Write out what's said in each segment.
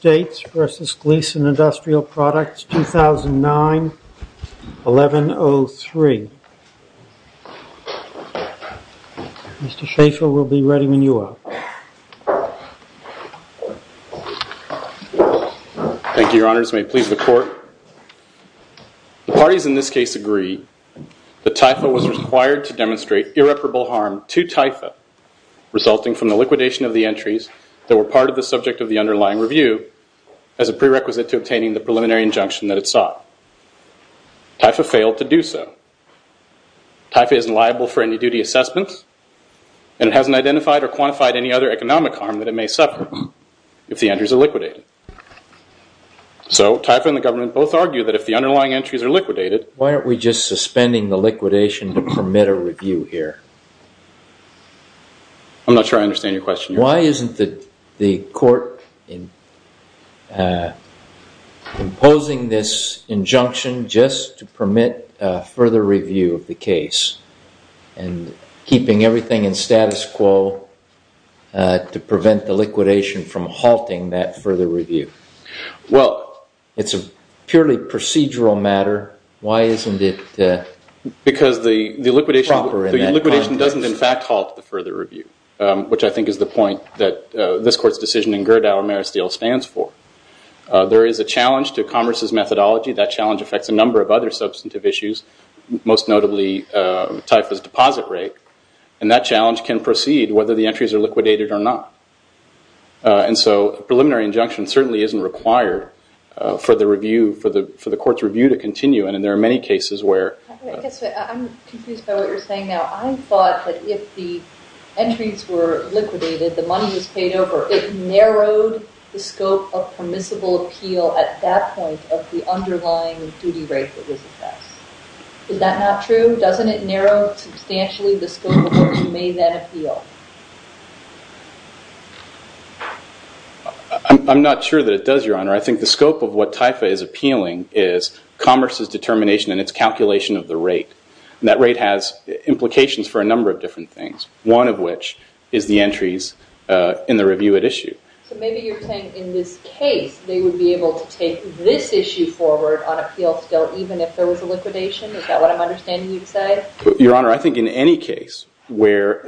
v. Gleason Industrial Products, 2009-1103. Mr. Schaefer will be ready when you are. Thank you, your honors. May it please the court. The parties in this case agree that Taifa was required to demonstrate irreparable harm to Taifa, resulting from the liquidation of the entries that were part of the subject of the underlying review as a prerequisite to obtaining the preliminary injunction that it sought. Taifa failed to do so. Taifa isn't liable for any duty assessments and it hasn't identified or quantified any other economic harm that it may suffer if the entries are liquidated. So Taifa and the government both argue that if the underlying entries are liquidated... Why aren't we just suspending the liquidation to permit a review here? I'm not sure I understand your question. Why isn't the court imposing this injunction just to permit further review of the case and keeping everything in status quo to prevent the liquidation from halting that further review? Well, it's a purely procedural matter. Why isn't it proper in that context? Because the liquidation doesn't, in fact, halt the further review, which I think is the point that this court's decision in Gerdau Maristil stands for. There is a challenge to Congress's methodology. That challenge affects a number of other substantive issues, most notably Taifa's deposit rate. And that challenge can proceed whether the entries are liquidated or not. And so a preliminary injunction certainly isn't required for the court's review to continue. And there are many cases where... I'm confused by what you're saying now. I thought that if the entries were liquidated, the money was paid over. It narrowed the scope of permissible appeal at that point of the underlying duty rate that was assessed. Is that not true? Doesn't it narrow substantially the scope of what you may then appeal? I'm not sure that it does, Your Honor. I think the scope of what Taifa is appealing is Congress's determination and its calculation of the rate. That rate has implications for a number of different things, one of which is the entries in the review at issue. So maybe you're saying in this case, they would be able to take this issue forward on appeal still, even if there was a liquidation? Is that what I'm understanding you'd say? Your Honor, I think in any case where...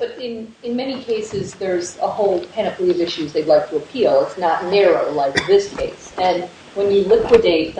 But in many cases, there's a whole panoply of issues they'd like to appeal. It's not narrow like this case. And when you liquidate,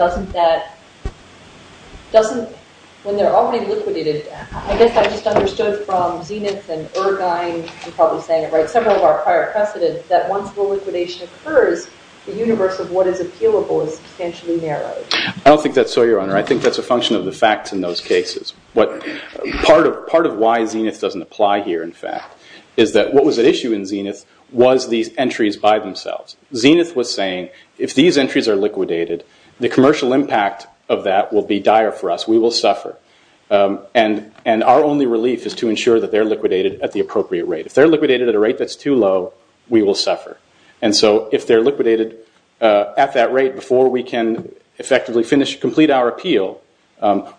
when they're already liquidated, I guess I just understood from Zenith and Irvine, I'm probably saying it right, several of our prior precedents, that once the liquidation occurs, the universe of what is appealable is substantially narrowed. I don't think that's so, I think that's a function of the facts in those cases. Part of why Zenith doesn't apply here, in fact, is that what was at issue in Zenith was these entries by themselves. Zenith was saying, if these entries are liquidated, the commercial impact of that will be dire for us. We will suffer. And our only relief is to ensure that they're liquidated at the appropriate rate. If they're liquidated at a rate that's too low, we will suffer. And so if they're liquidated at that rate before we can effectively complete our appeal,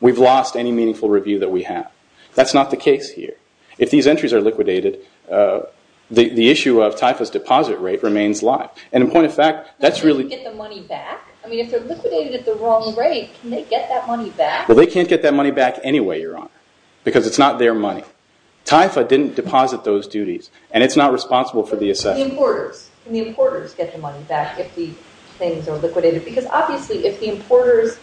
we've lost any meaningful review that we have. That's not the case here. If these entries are liquidated, the issue of TIFA's deposit rate remains live. And in point of fact, that's really- Can they get the money back? I mean, if they're liquidated at the wrong rate, can they get that money back? Well, they can't get that money back anyway, Your Honor, because it's not their money. TIFA didn't deposit those duties and it's not responsible for the assessment. Can the importers get the money back if the things are liquidated? Because obviously, if the importers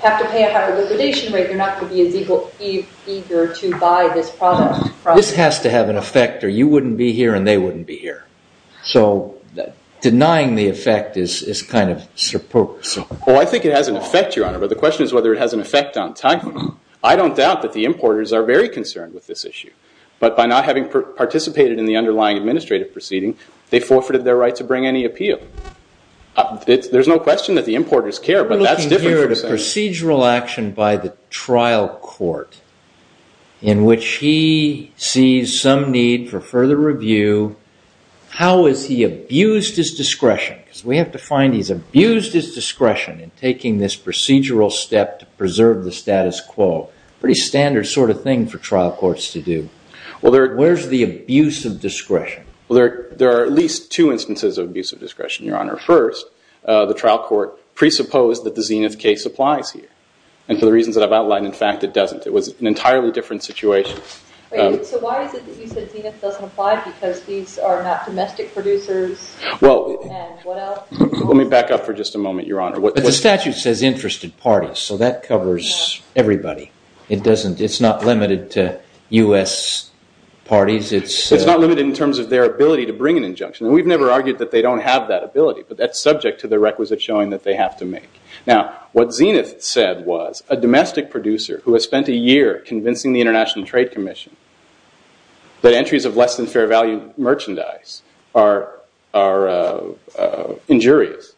have to pay a higher liquidation rate, they're not going to be as eager to buy this product. This has to have an effect or you wouldn't be here and they wouldn't be here. So denying the effect is kind of- Well, I think it has an effect, Your Honor, but the question is whether it has an effect on time. I don't doubt that the importers are very concerned with this issue, but by not having participated in the underlying administrative proceeding, they forfeited their right to bring any appeal. There's no question that the importers care, but that's different from saying- We're looking here at a procedural action by the trial court in which he sees some need for further review. How has he abused his discretion? Because we have to find he's abused his discretion in taking this procedural step to preserve the status quo. Pretty standard sort of thing for trial courts to do. Where's the abuse of discretion? Well, there are at least two instances of abuse of discretion, Your Honor. First, the trial court presupposed that the Zenith case applies here. And for the reasons that I've outlined, in fact, it doesn't. It was an entirely different situation. So why is it that you said Zenith doesn't apply because these are not domestic producers? Let me back up for just a moment, Your Honor. The statute says interested parties, so that covers everybody. It's not limited to US parties. It's- It's not limited in terms of their ability to bring an injunction. And we've never argued that they don't have that ability, but that's subject to the requisite showing that they have to make. Now, what Zenith said was a domestic producer who has spent a year convincing the International Trade Commission that entries of less than fair value merchandise are injurious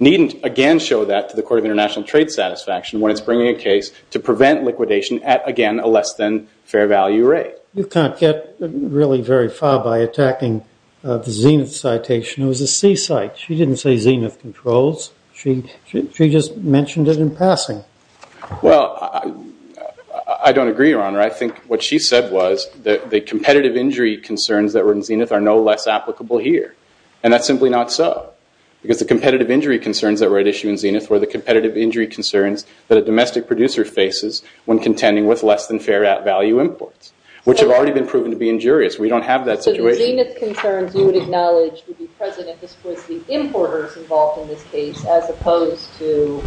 needn't, again, show that to the Court of International Trade satisfaction when it's bringing a case to prevent liquidation at, again, a less than fair value rate. You can't get really very far by attacking the Zenith citation. It was a seaside. She didn't say Zenith controls. She just mentioned it in passing. Well, I don't agree, Your Honor. I think what she said was that the competitive injury concerns that were in Zenith are no less applicable here, and that's simply not so, because the competitive injury concerns that were at issue in Zenith were the competitive injury concerns that a domestic producer faces when contending with less than fair value imports, which have already been proven to be injurious. We don't have that situation. So the Zenith concerns you would acknowledge would be present if this was the importers involved in this case as opposed to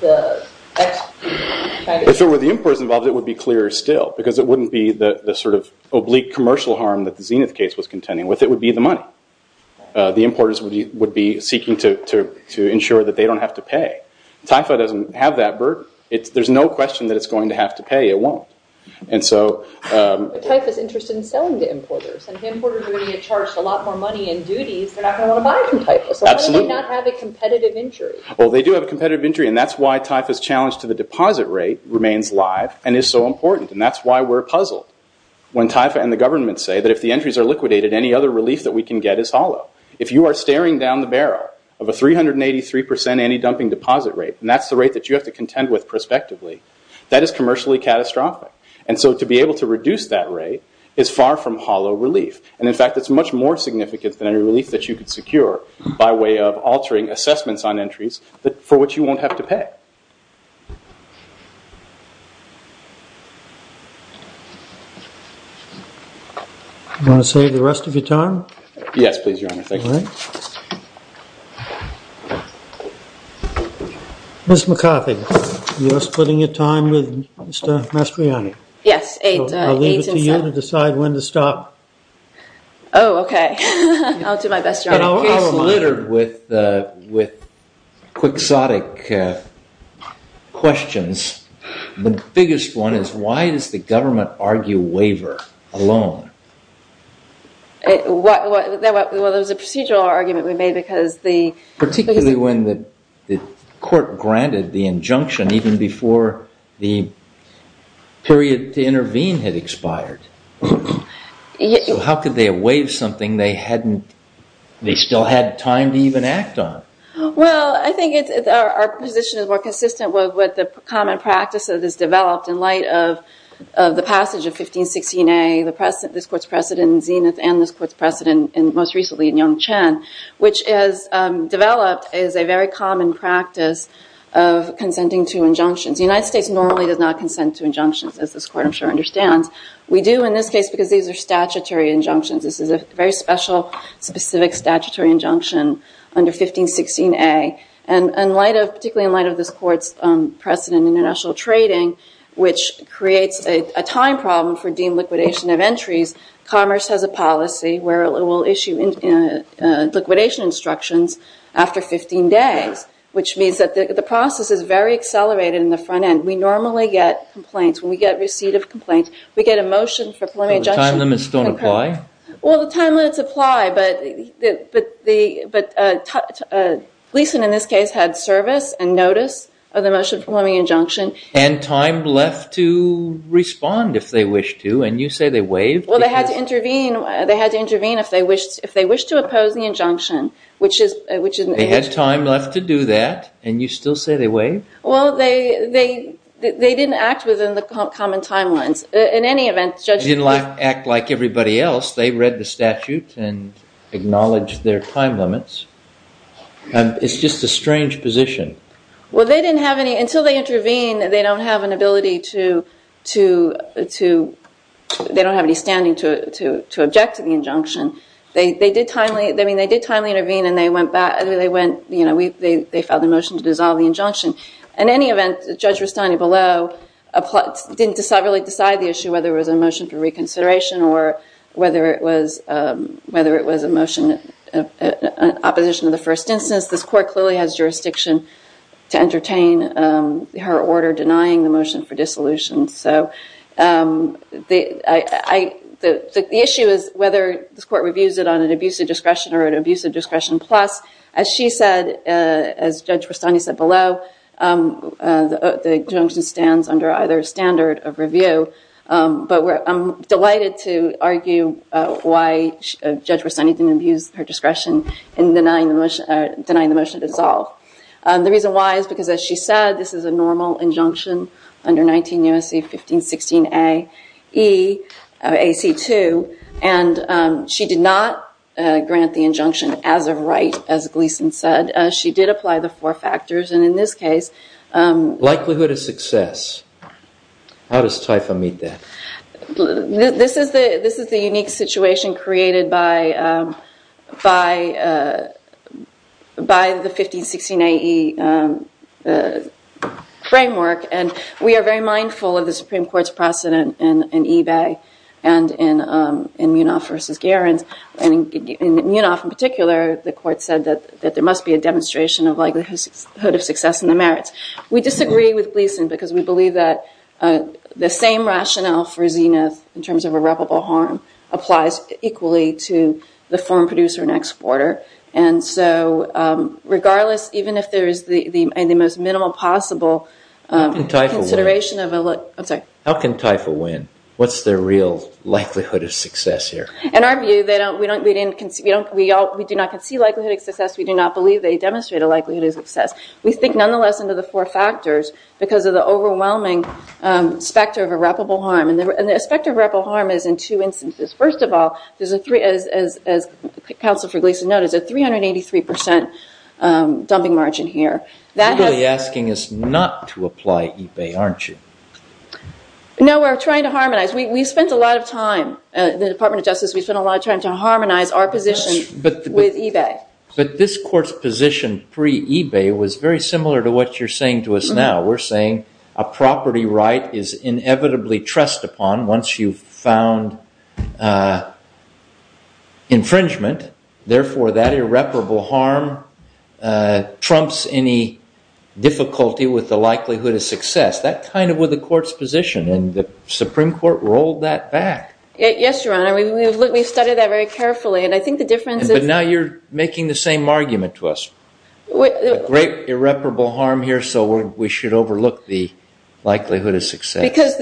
the ex- If it were the importers involved, it would be clearer still, because it wouldn't be the oblique commercial harm that the Zenith case was contending with. It would be the money. The importers would be seeking to ensure that they don't have to pay. TIFA doesn't have that burden. There's no question that it's going to have to pay. It won't. But TIFA's interested in selling to importers, and if importers are going to get charged a lot more money in duties, they're not going to want to buy from TIFA. Absolutely. So why do they not have a competitive injury? Well, they do have a competitive injury, and that's why TIFA's challenge to the deposit rate remains live and is so important, and that's why we're puzzled when TIFA and the government say that if the entries are liquidated, any other relief that we can get is hollow. If you are staring down the barrel of a 383% anti-dumping deposit rate, and that's the rate that you have to contend with prospectively, that is commercially catastrophic. And so to be able to reduce that rate is far from hollow relief. And in fact, it's much more significant than any relief that you could secure by way of altering assessments on entries for which you won't have to pay. Do you want to save the rest of your time? Yes, please, Your Honor. Ms. McCarthy, you're splitting your time with Mr. Mastriani. Yes. I'll leave it to you to decide when to stop. I'll do my best, Your Honor. In a case littered with quixotic questions, the biggest one is, why does the government argue waiver alone? Well, there was a procedural argument we made because the- Particularly when the court granted the injunction even before the period to intervene had expired. So how could they have waived something they still had time to even act on? Well, I think our position is more consistent with what the common practice of this developed in light of the passage of 1516A, this court's precedent in Zenith, and this court's precedent most recently in Yongchen, which has developed as a very common practice of consenting to injunctions. The United States normally does not consent to injunctions, as this court, I'm sure, understands. We do in this case because these are statutory injunctions. This is a very special, specific statutory injunction under 1516A. And particularly in light of this court's precedent in international trading, which creates a time problem for deemed liquidation of entries, commerce has a policy where it will issue liquidation instructions after 15 days, which means that the process is very accelerated in the front end. We normally get complaints. When we get receipt of complaints, we get a motion for preliminary injunction. But the time limits don't apply? Well, the time limits apply. But Gleason, in this case, had service and notice of the motion for preliminary injunction. And time left to respond if they wish to. And you say they waived? Well, they had to intervene. They had to intervene if they wished to oppose the injunction, which is an issue. They had time left to do that, and you still say they waived? Well, they didn't act within the common timelines. In any event, Judge Gleason did. They didn't act like everybody else. They read the statute and acknowledged their time limits. It's just a strange position. Well, they didn't have any. Until they intervene, they don't have an ability to, they don't have any standing to object to the injunction. They did timely intervene, and they filed a motion to dissolve the injunction. In any event, Judge Rustani, below, didn't really decide the issue whether it was a motion for reconsideration or whether it was a motion in opposition to the first instance. This court clearly has jurisdiction to entertain her order denying the motion for dissolution. So the issue is whether this court reviews it on an abuse of discretion or an abuse of discretion plus, as she said, as Judge Rustani said below, the injunction stands under either standard of review. But I'm delighted to argue why Judge Rustani didn't abuse her discretion in denying the motion to dissolve. The reason why is because, as she said, this is a normal injunction under 19 U.S.C. 1516 A, E, AC 2, and she did not grant the injunction as a right, as Gleason said. She did apply the four factors, and in this case- Likelihood of success. How does TIFA meet that? This is the unique situation created by the 1516 A, E framework, and we are very mindful of the Supreme Court's precedent in Ebay and in Munoff versus Gerrans. And in Munoff in particular, the court said that there must be a demonstration of likelihood of success in the merits. We disagree with Gleason because we believe that the same rationale for Zenith in terms of irreparable harm applies equally to the foreign producer and exporter. And so regardless, even if there is the most minimal possible consideration of- How can TIFA win? What's their real likelihood of success here? In our view, we do not concede likelihood of success. We do not believe they demonstrate a likelihood of success. We think nonetheless under the four factors because of the overwhelming specter of irreparable harm. And the specter of irreparable harm is in two instances. First of all, as counsel for Gleason noted, it's a 383% dumping margin here. You're really asking us not to apply Ebay, aren't you? No, we're trying to harmonize. We spent a lot of time, the Department of Justice, we spent a lot of time to harmonize our position with Ebay. But this court's position pre-Ebay was very similar to what you're saying to us now. We're saying a property right is inevitably trust upon once you've found infringement. Therefore, that irreparable harm trumps any difficulty with the likelihood of success. That kind of was the court's position. And the Supreme Court rolled that back. Yes, Your Honor. We've studied that very carefully. And I think the difference is- Now you're making the same argument to us. Great irreparable harm here. So we should overlook the likelihood of success. Because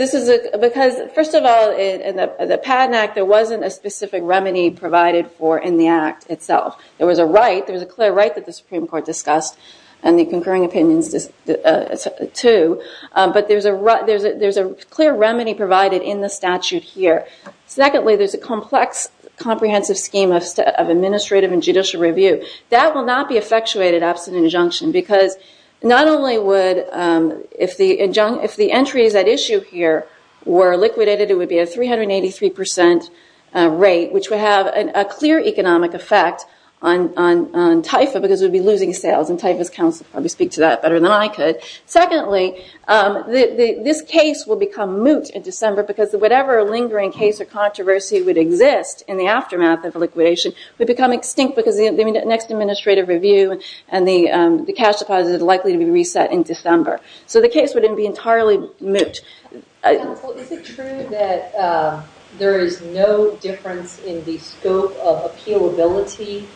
first of all, in the Padden Act, there wasn't a specific remedy provided for in the act itself. There was a right. There was a clear right that the Supreme Court discussed and the concurring opinions too. But there's a clear remedy provided in the statute here. Secondly, there's a complex, comprehensive scheme of administrative and judicial review. That will not be effectuated absent an injunction. Because not only would, if the entries at issue here were liquidated, it would be a 383% rate, which would have a clear economic effect on TIFA because it would be losing sales. And TIFA's counsel would probably speak to that better than I could. Secondly, this case will become moot in December because whatever lingering case or controversy would exist in the aftermath of liquidation would become extinct because the next administrative review and the cash deposit is likely to be reset in December. So the case wouldn't be entirely moot. Counsel, is it true that there is no difference in the scope of appealability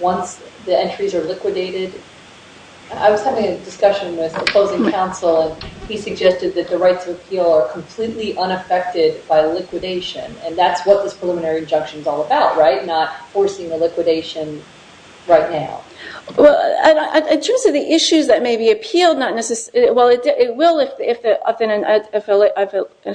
once the entries are liquidated? I was having a discussion with the opposing counsel and he suggested that the rights of appeal are completely unaffected by liquidation. And that's what this preliminary injunction is all about, right? Not forcing the liquidation right now. Well, in terms of the issues that may be appealed, well, it will if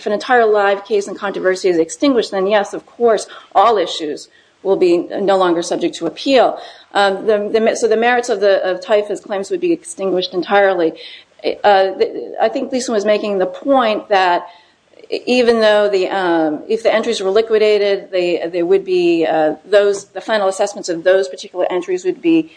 an entire live case and controversy is extinguished, then yes, of course, all issues will be no longer subject to appeal. So the merits of the TIFA's claims would be extinguished entirely. I think Lisa was making the point that even though if the entries were liquidated, the final assessments of those particular entries would be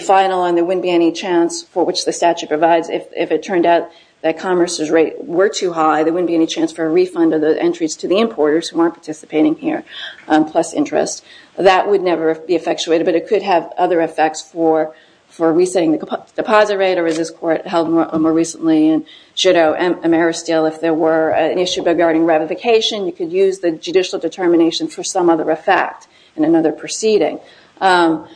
final and there wouldn't be any chance for which the statute provides. If it turned out that commerce's rate were too high, there wouldn't be any chance for a refund of the entries to the importers who aren't participating here plus interest. That would never be effectuated. But it could have other effects for resetting the deposit rate or as this court held more recently in Judo and Ameristeel, if there were an issue regarding ratification, you could use the judicial determination for some other effect in another proceeding. So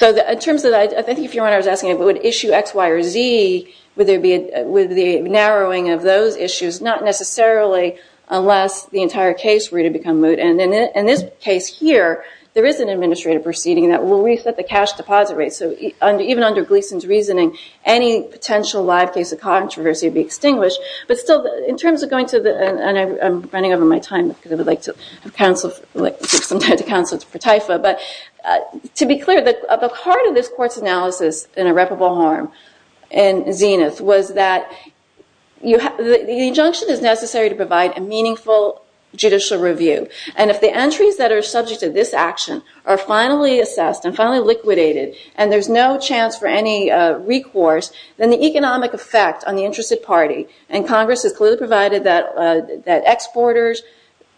in terms of that, I think if you're wondering, I was asking if it would issue X, Y, or Z, would there be a narrowing of those issues? Not necessarily unless the entire case were to become moot. In this case here, there is an administrative proceeding that will reset the cash deposit rate. So even under Gleason's reasoning, any potential live case of controversy would be extinguished. But still, in terms of going to the, and I'm running over my time because I would like some time to counsel for TIFA, but to be clear, the heart of this court's analysis in Irreparable Harm and Zenith was that the injunction is necessary to provide a meaningful judicial review. And if the entries that are subject to this action are finally assessed and finally liquidated, and there's no chance for any recourse, then the economic effect on the interested party, and Congress has clearly provided that exporters,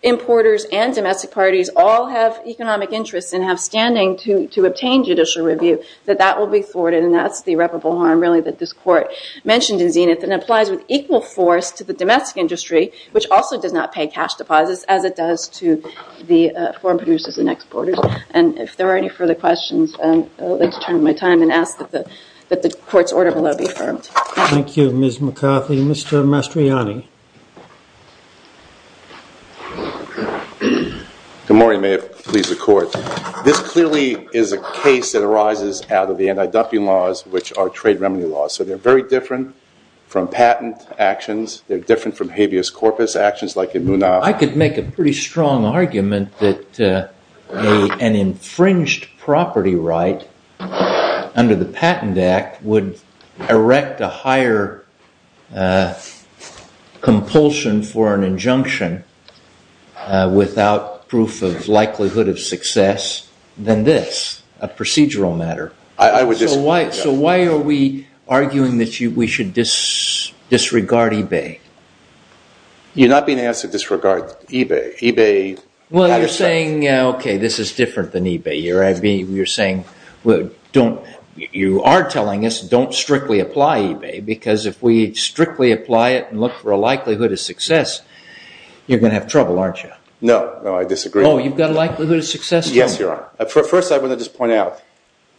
importers, and domestic parties all have economic interests and have standing to obtain judicial review, that that will be thwarted. And that's the irreparable harm, really, that this court mentioned in Zenith. And it applies with equal force to the domestic industry, which also does not pay cash deposits as it does to the foreign producers and exporters. And if there are any further questions, I'd like to turn my time and ask that the court's order will now be affirmed. Thank you, Ms. McCauley. Mr. Mastriani. Good morning. May it please the court. This clearly is a case that arises out of the anti-dumping laws, which are trade remedy laws. So they're very different from patent actions. They're different from habeas corpus actions like in Munaf. I could make a pretty strong argument that an infringed property right under the Patent Act would erect a higher compulsion for an injunction without proof of likelihood of success than this, a procedural matter. So why are we arguing that we should disregard eBay? You're not being asked to disregard eBay. eBay matters to us. Well, you're saying, OK, this is different than eBay. You're saying, you are telling us, don't strictly apply eBay. Because if we strictly apply it and look for a likelihood of success, you're going to have trouble, aren't you? No. No, I disagree. Oh, you've got a likelihood of success? Yes, Your Honor. First, I want to just point out,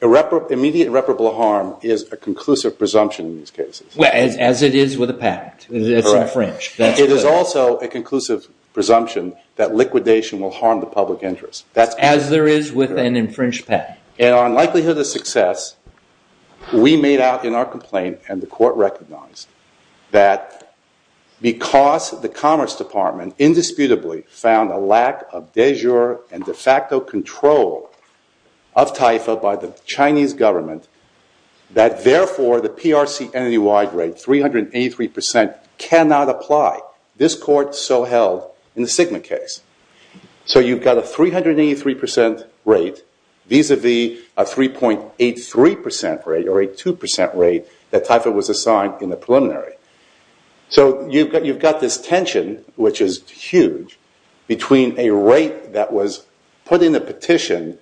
immediate irreparable harm is a conclusive presumption in these cases. Well, as it is with a patent. It's infringed. It is also a conclusive presumption that liquidation will harm the public interest. As there is with an infringed patent. And on likelihood of success, we made out in our complaint, and the court recognized, that because the Commerce Department indisputably found a lack of de jure and de facto control of TIFA by the Chinese government, that therefore, the PRC entity-wide rate, 383%, cannot apply. This court so held in the Sigma case. So you've got a 383% rate vis-a-vis a 3.83% rate or a 2% rate that TIFA was assigned in the preliminary. So you've got this tension, which is huge, between a rate that was put in the petition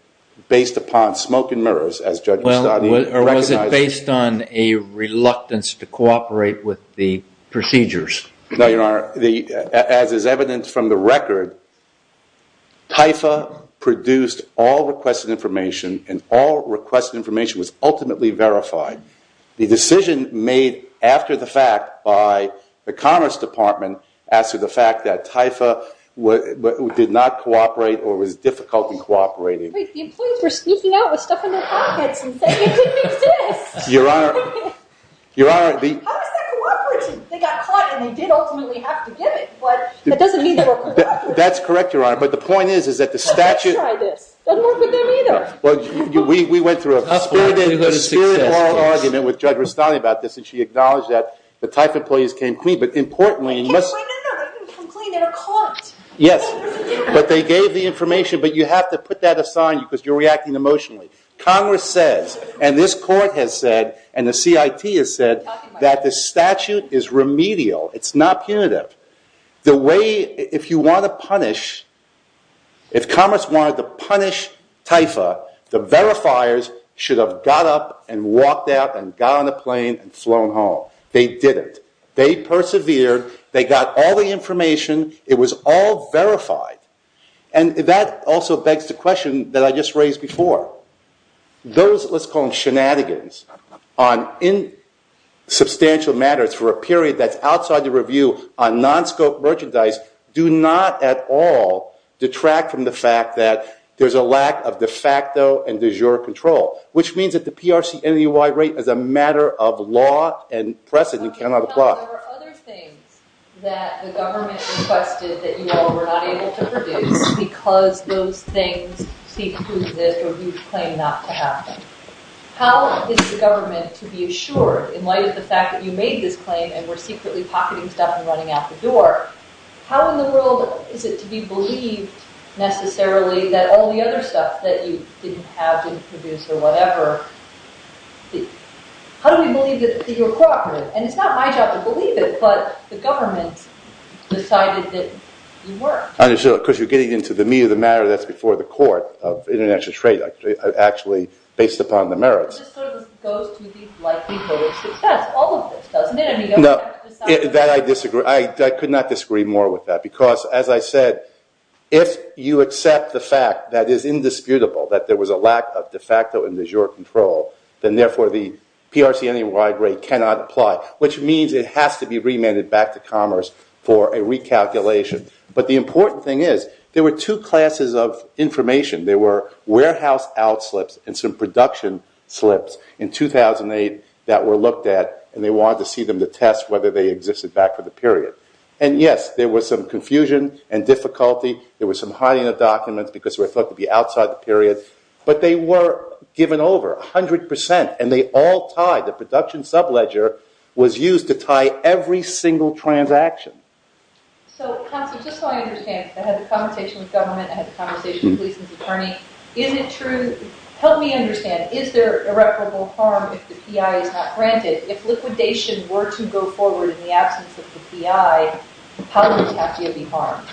based upon smoke and mirrors, as Judge Gustavi recognized. Or was it based on a reluctance to cooperate with the procedures? No, Your Honor. As is evident from the record, TIFA produced all requested information, and all requested information was ultimately verified. The decision made after the fact by the Commerce Department, as to the fact that TIFA did not cooperate or was difficult in cooperating. The employees were sneaking out with stuff in their pockets and saying, it didn't exist. Your Honor, the- How is that cooperative? They got caught, and they did ultimately have to give it. But that doesn't mean they were cooperative. That's correct, Your Honor. But the point is, is that the statute- Let me try this. Doesn't work with them either. Well, we went through a spirit law argument with Judge Gustavi about this, and she acknowledged that the TIFA employees came clean. But importantly- No, no, no, they didn't come clean. They were caught. Yes, but they gave the information. But you have to put that aside because you're reacting emotionally. Congress says, and this court has said, and the CIT has said, that the statute is remedial. It's not punitive. The way, if you want to punish, if Commerce wanted to punish TIFA, the verifiers should have got up and walked out and got on a plane and flown home. They didn't. They persevered. They got all the information. It was all verified. And that also begs the question that I just raised before. Those, let's call them shenanigans, on insubstantial matters for a period that's outside the review on non-scope merchandise, do not at all detract from the fact that there's a lack of de facto and de jure control, which means that the PRC-NUI rate is a matter of law and precedent cannot apply. There were other things that the government requested that you all were not able to produce because those things seek to exist or you claim not to have them. How is the government to be assured in light of the fact that you made this claim and were secretly pocketing stuff and running out the door? How in the world is it to be believed, necessarily, that all the other stuff that you didn't have didn't produce or whatever? How do we believe that you're cooperative? And it's not my job to believe it, but the government decided that you weren't. I understand. Because you're getting into the meat of the matter that's before the court of international trade actually based upon the merits. This sort of goes to the likelihood of success. All of this, doesn't it? I mean, you don't have to decide. That I disagree. I could not disagree more with that because, as I said, if you accept the fact that is indisputable that there was a lack of de facto and de jure control, then, therefore, the PRC any wide rate cannot apply, which means it has to be remanded back to commerce for a recalculation. But the important thing is there were two classes of information. There were warehouse out slips and some production slips in 2008 that were looked at, and they wanted to see them to test whether they existed back for the period. And yes, there was some confusion and difficulty. There was some hiding of documents because they were thought to be outside the period. But they were given over 100%, and they all tied. The production sub-ledger was used to tie every single transaction. So, counsel, just so I understand, I had a conversation with government. I had a conversation with the police attorney. Is it true? Help me understand. Is there irreparable harm if the PI is not granted? If liquidation were to go forward in the absence of the PI, how would it have to be harmed?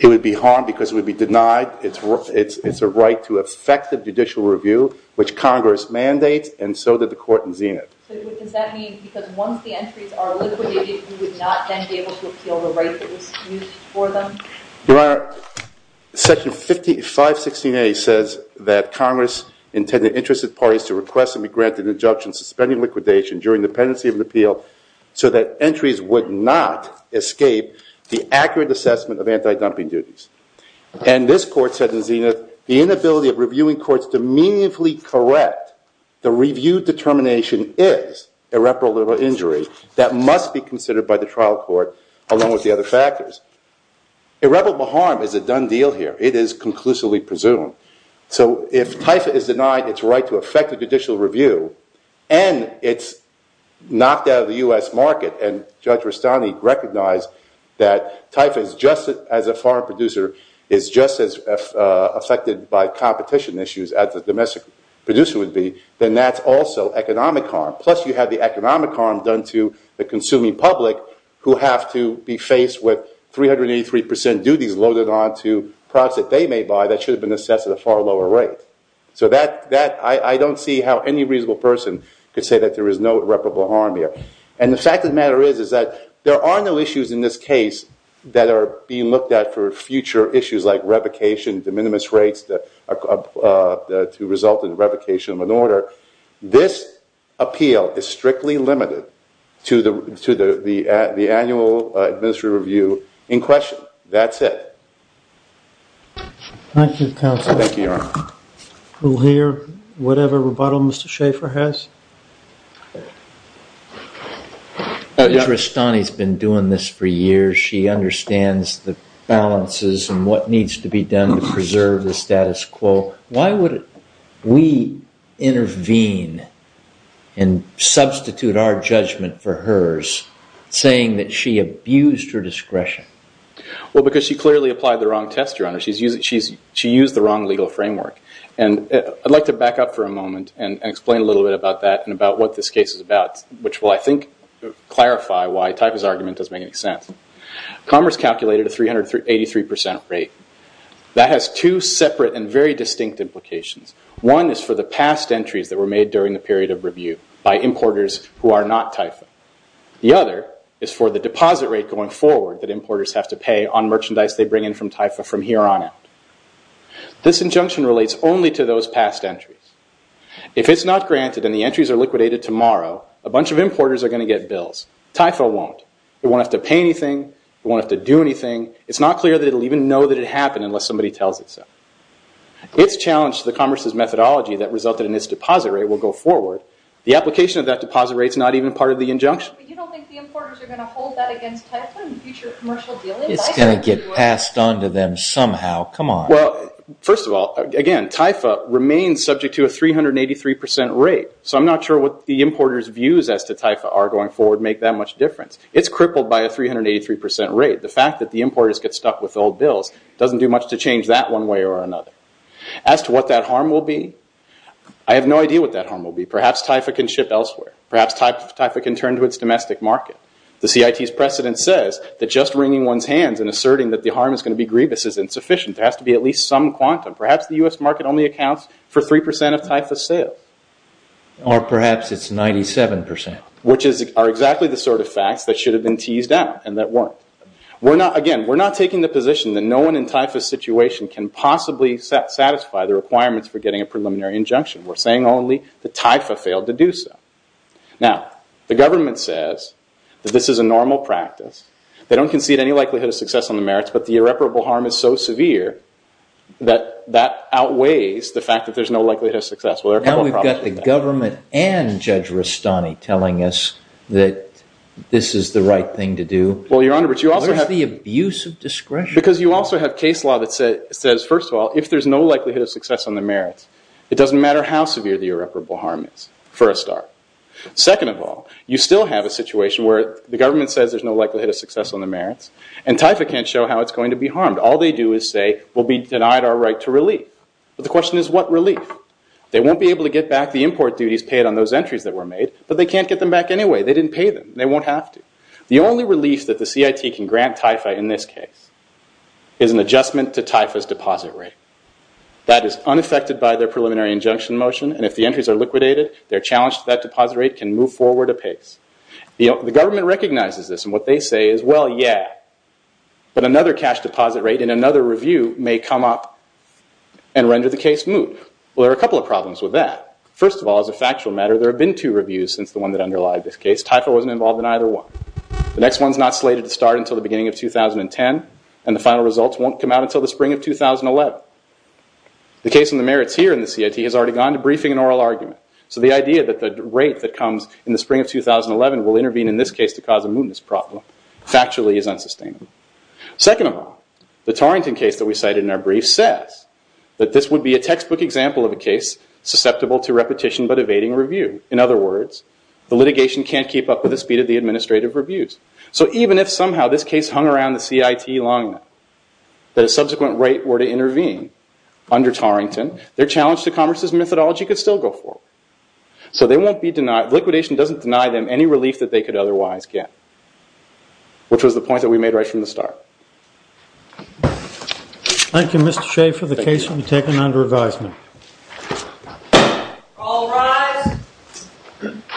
It would be harmed because it would be denied. It's a right to effective judicial review, which Congress mandates, and so did the court in Zenith. So does that mean because once the entries are liquidated, we would not then be able to appeal the right that was used for them? Your Honor, Section 516A says that Congress intended interested parties to request and be granted an injunction suspending liquidation during the pendency of an appeal so that entries would not escape the accurate assessment of anti-dumping duties. And this court said in Zenith, the inability of reviewing courts to meaningfully correct the review determination is irreparable injury that must be considered by the trial court, along with the other factors. Irreparable harm is a done deal here. It is conclusively presumed. So if TIFA is denied its right to effective judicial review, and it's knocked out of the US market, and Judge Rustani recognized that as a foreign producer is just as affected by competition issues as a domestic producer would be, then that's also economic harm. Plus, you have the economic harm done to the consuming public, who have to be faced with 383% duties loaded onto products that they may buy that should have been assessed at a far lower rate. So I don't see how any reasonable person could say that there is no irreparable harm here. And the fact of the matter is that there are no issues in this case that are being looked at for future issues like revocation, de minimis rates to result in revocation of an order. This appeal is strictly limited to the annual administrative review in question. That's it. Thank you, counsel. Thank you, Your Honor. We'll hear whatever rebuttal Mr. Schaffer has. Judge Rustani's been doing this for years. She understands the balances and what needs to be done to preserve the status quo. Why would we intervene and substitute our judgment for hers, saying that she abused her discretion? Well, because she clearly applied the wrong test, Your Honor. She used the wrong legal framework. And I'd like to back up for a moment and explain a little bit about that and about what this case is about, which will, I think, clarify why Taifa's argument doesn't make any sense. Commerce calculated a 383% rate. That has two separate and very distinct implications. One is for the past entries that were made during the period of review by importers who are not Taifa. The other is for the deposit rate going forward that importers have to pay on merchandise they bring in from Taifa from here on out. This injunction relates only to those past entries. If it's not granted and the entries are liquidated tomorrow, a bunch of importers are going to get bills. Taifa won't. It won't have to pay anything. It won't have to do anything. It's not clear that it'll even know that it happened unless somebody tells it so. It's challenged the commerce's methodology that resulted in this deposit rate will go forward. The application of that deposit rate is not even part of the injunction. But you don't think the importers are going to hold that against Taifa in future commercial dealings? It's going to get passed on to them somehow. Come on. Well, first of all, again, Taifa remains subject to a 383% rate. So I'm not sure what the importers' views as to Taifa are going forward make that much difference. It's crippled by a 383% rate. The fact that the importers get stuck with old bills doesn't do much to change that one way or another. As to what that harm will be, I have no idea what that harm will be. Perhaps Taifa can ship elsewhere. Perhaps Taifa can turn to its domestic market. The CIT's precedent says that just wringing one's hands and asserting that the harm is going to be grievous is insufficient. There has to be at least some quantum. Perhaps the U.S. market only accounts for 3% of Taifa's sales. Or perhaps it's 97%. Which are exactly the sort of facts that should have been teased out and that weren't. Again, we're not taking the position that no one in Taifa's situation can possibly satisfy the requirements for getting a preliminary injunction. We're saying only that Taifa failed to do so. Now, the government says that this is a normal practice. They don't concede any likelihood of success on the merits, but the irreparable harm is so severe that that outweighs the fact that there's no likelihood of success. Now we've got the government and Judge Rustani telling us that this is the right thing to do. Well, Your Honor, but you also have- Where's the abuse of discretion? Because you also have case law that says, first of all, if there's no likelihood of success on the merits, it doesn't matter how severe the irreparable harm is, for a start. Second of all, you still have a situation where the government says there's no likelihood of success on the merits, and Taifa can't show how it's going to be harmed. All they do is say, we'll be denied our right to relief. But the question is, what relief? They won't be able to get back the import duties paid on those entries that were made, but they can't get them back anyway. They didn't pay them. They won't have to. The only relief that the CIT can grant Taifa in this case is an adjustment to Taifa's deposit rate. That is unaffected by their preliminary injunction motion, and if the entries are liquidated, their challenge to that deposit rate can move forward apace. The government recognizes this, and what they say is, well, yeah, but another cash deposit rate in another review may come up and render the case moot. There are a couple of problems with that. First of all, as a factual matter, there have been two reviews since the one that underlied this case. Taifa wasn't involved in either one. The next one's not slated to start until the beginning of 2010, and the final results won't come out until the spring of 2011. The case on the merits here in the CIT has already gone to briefing an oral argument, so the idea that the rate that comes in the spring of 2011 will intervene in this case to cause a mootness problem, factually is unsustainable. Second of all, the Torrington case that we cited in our brief says that this would be a textbook example of a case susceptible to repetition but evading review. In other words, the litigation can't keep up with the speed of the administrative reviews. So even if somehow this case hung around the CIT long enough that a subsequent rate were to intervene under Torrington, their challenge to commerce's methodology could still go forward. So they won't be denied. Liquidation doesn't deny them any relief that they could otherwise get, which was the point that we made right from the start. Thank you, Mr. Shea, for the case. It will be taken under advisement. All rise.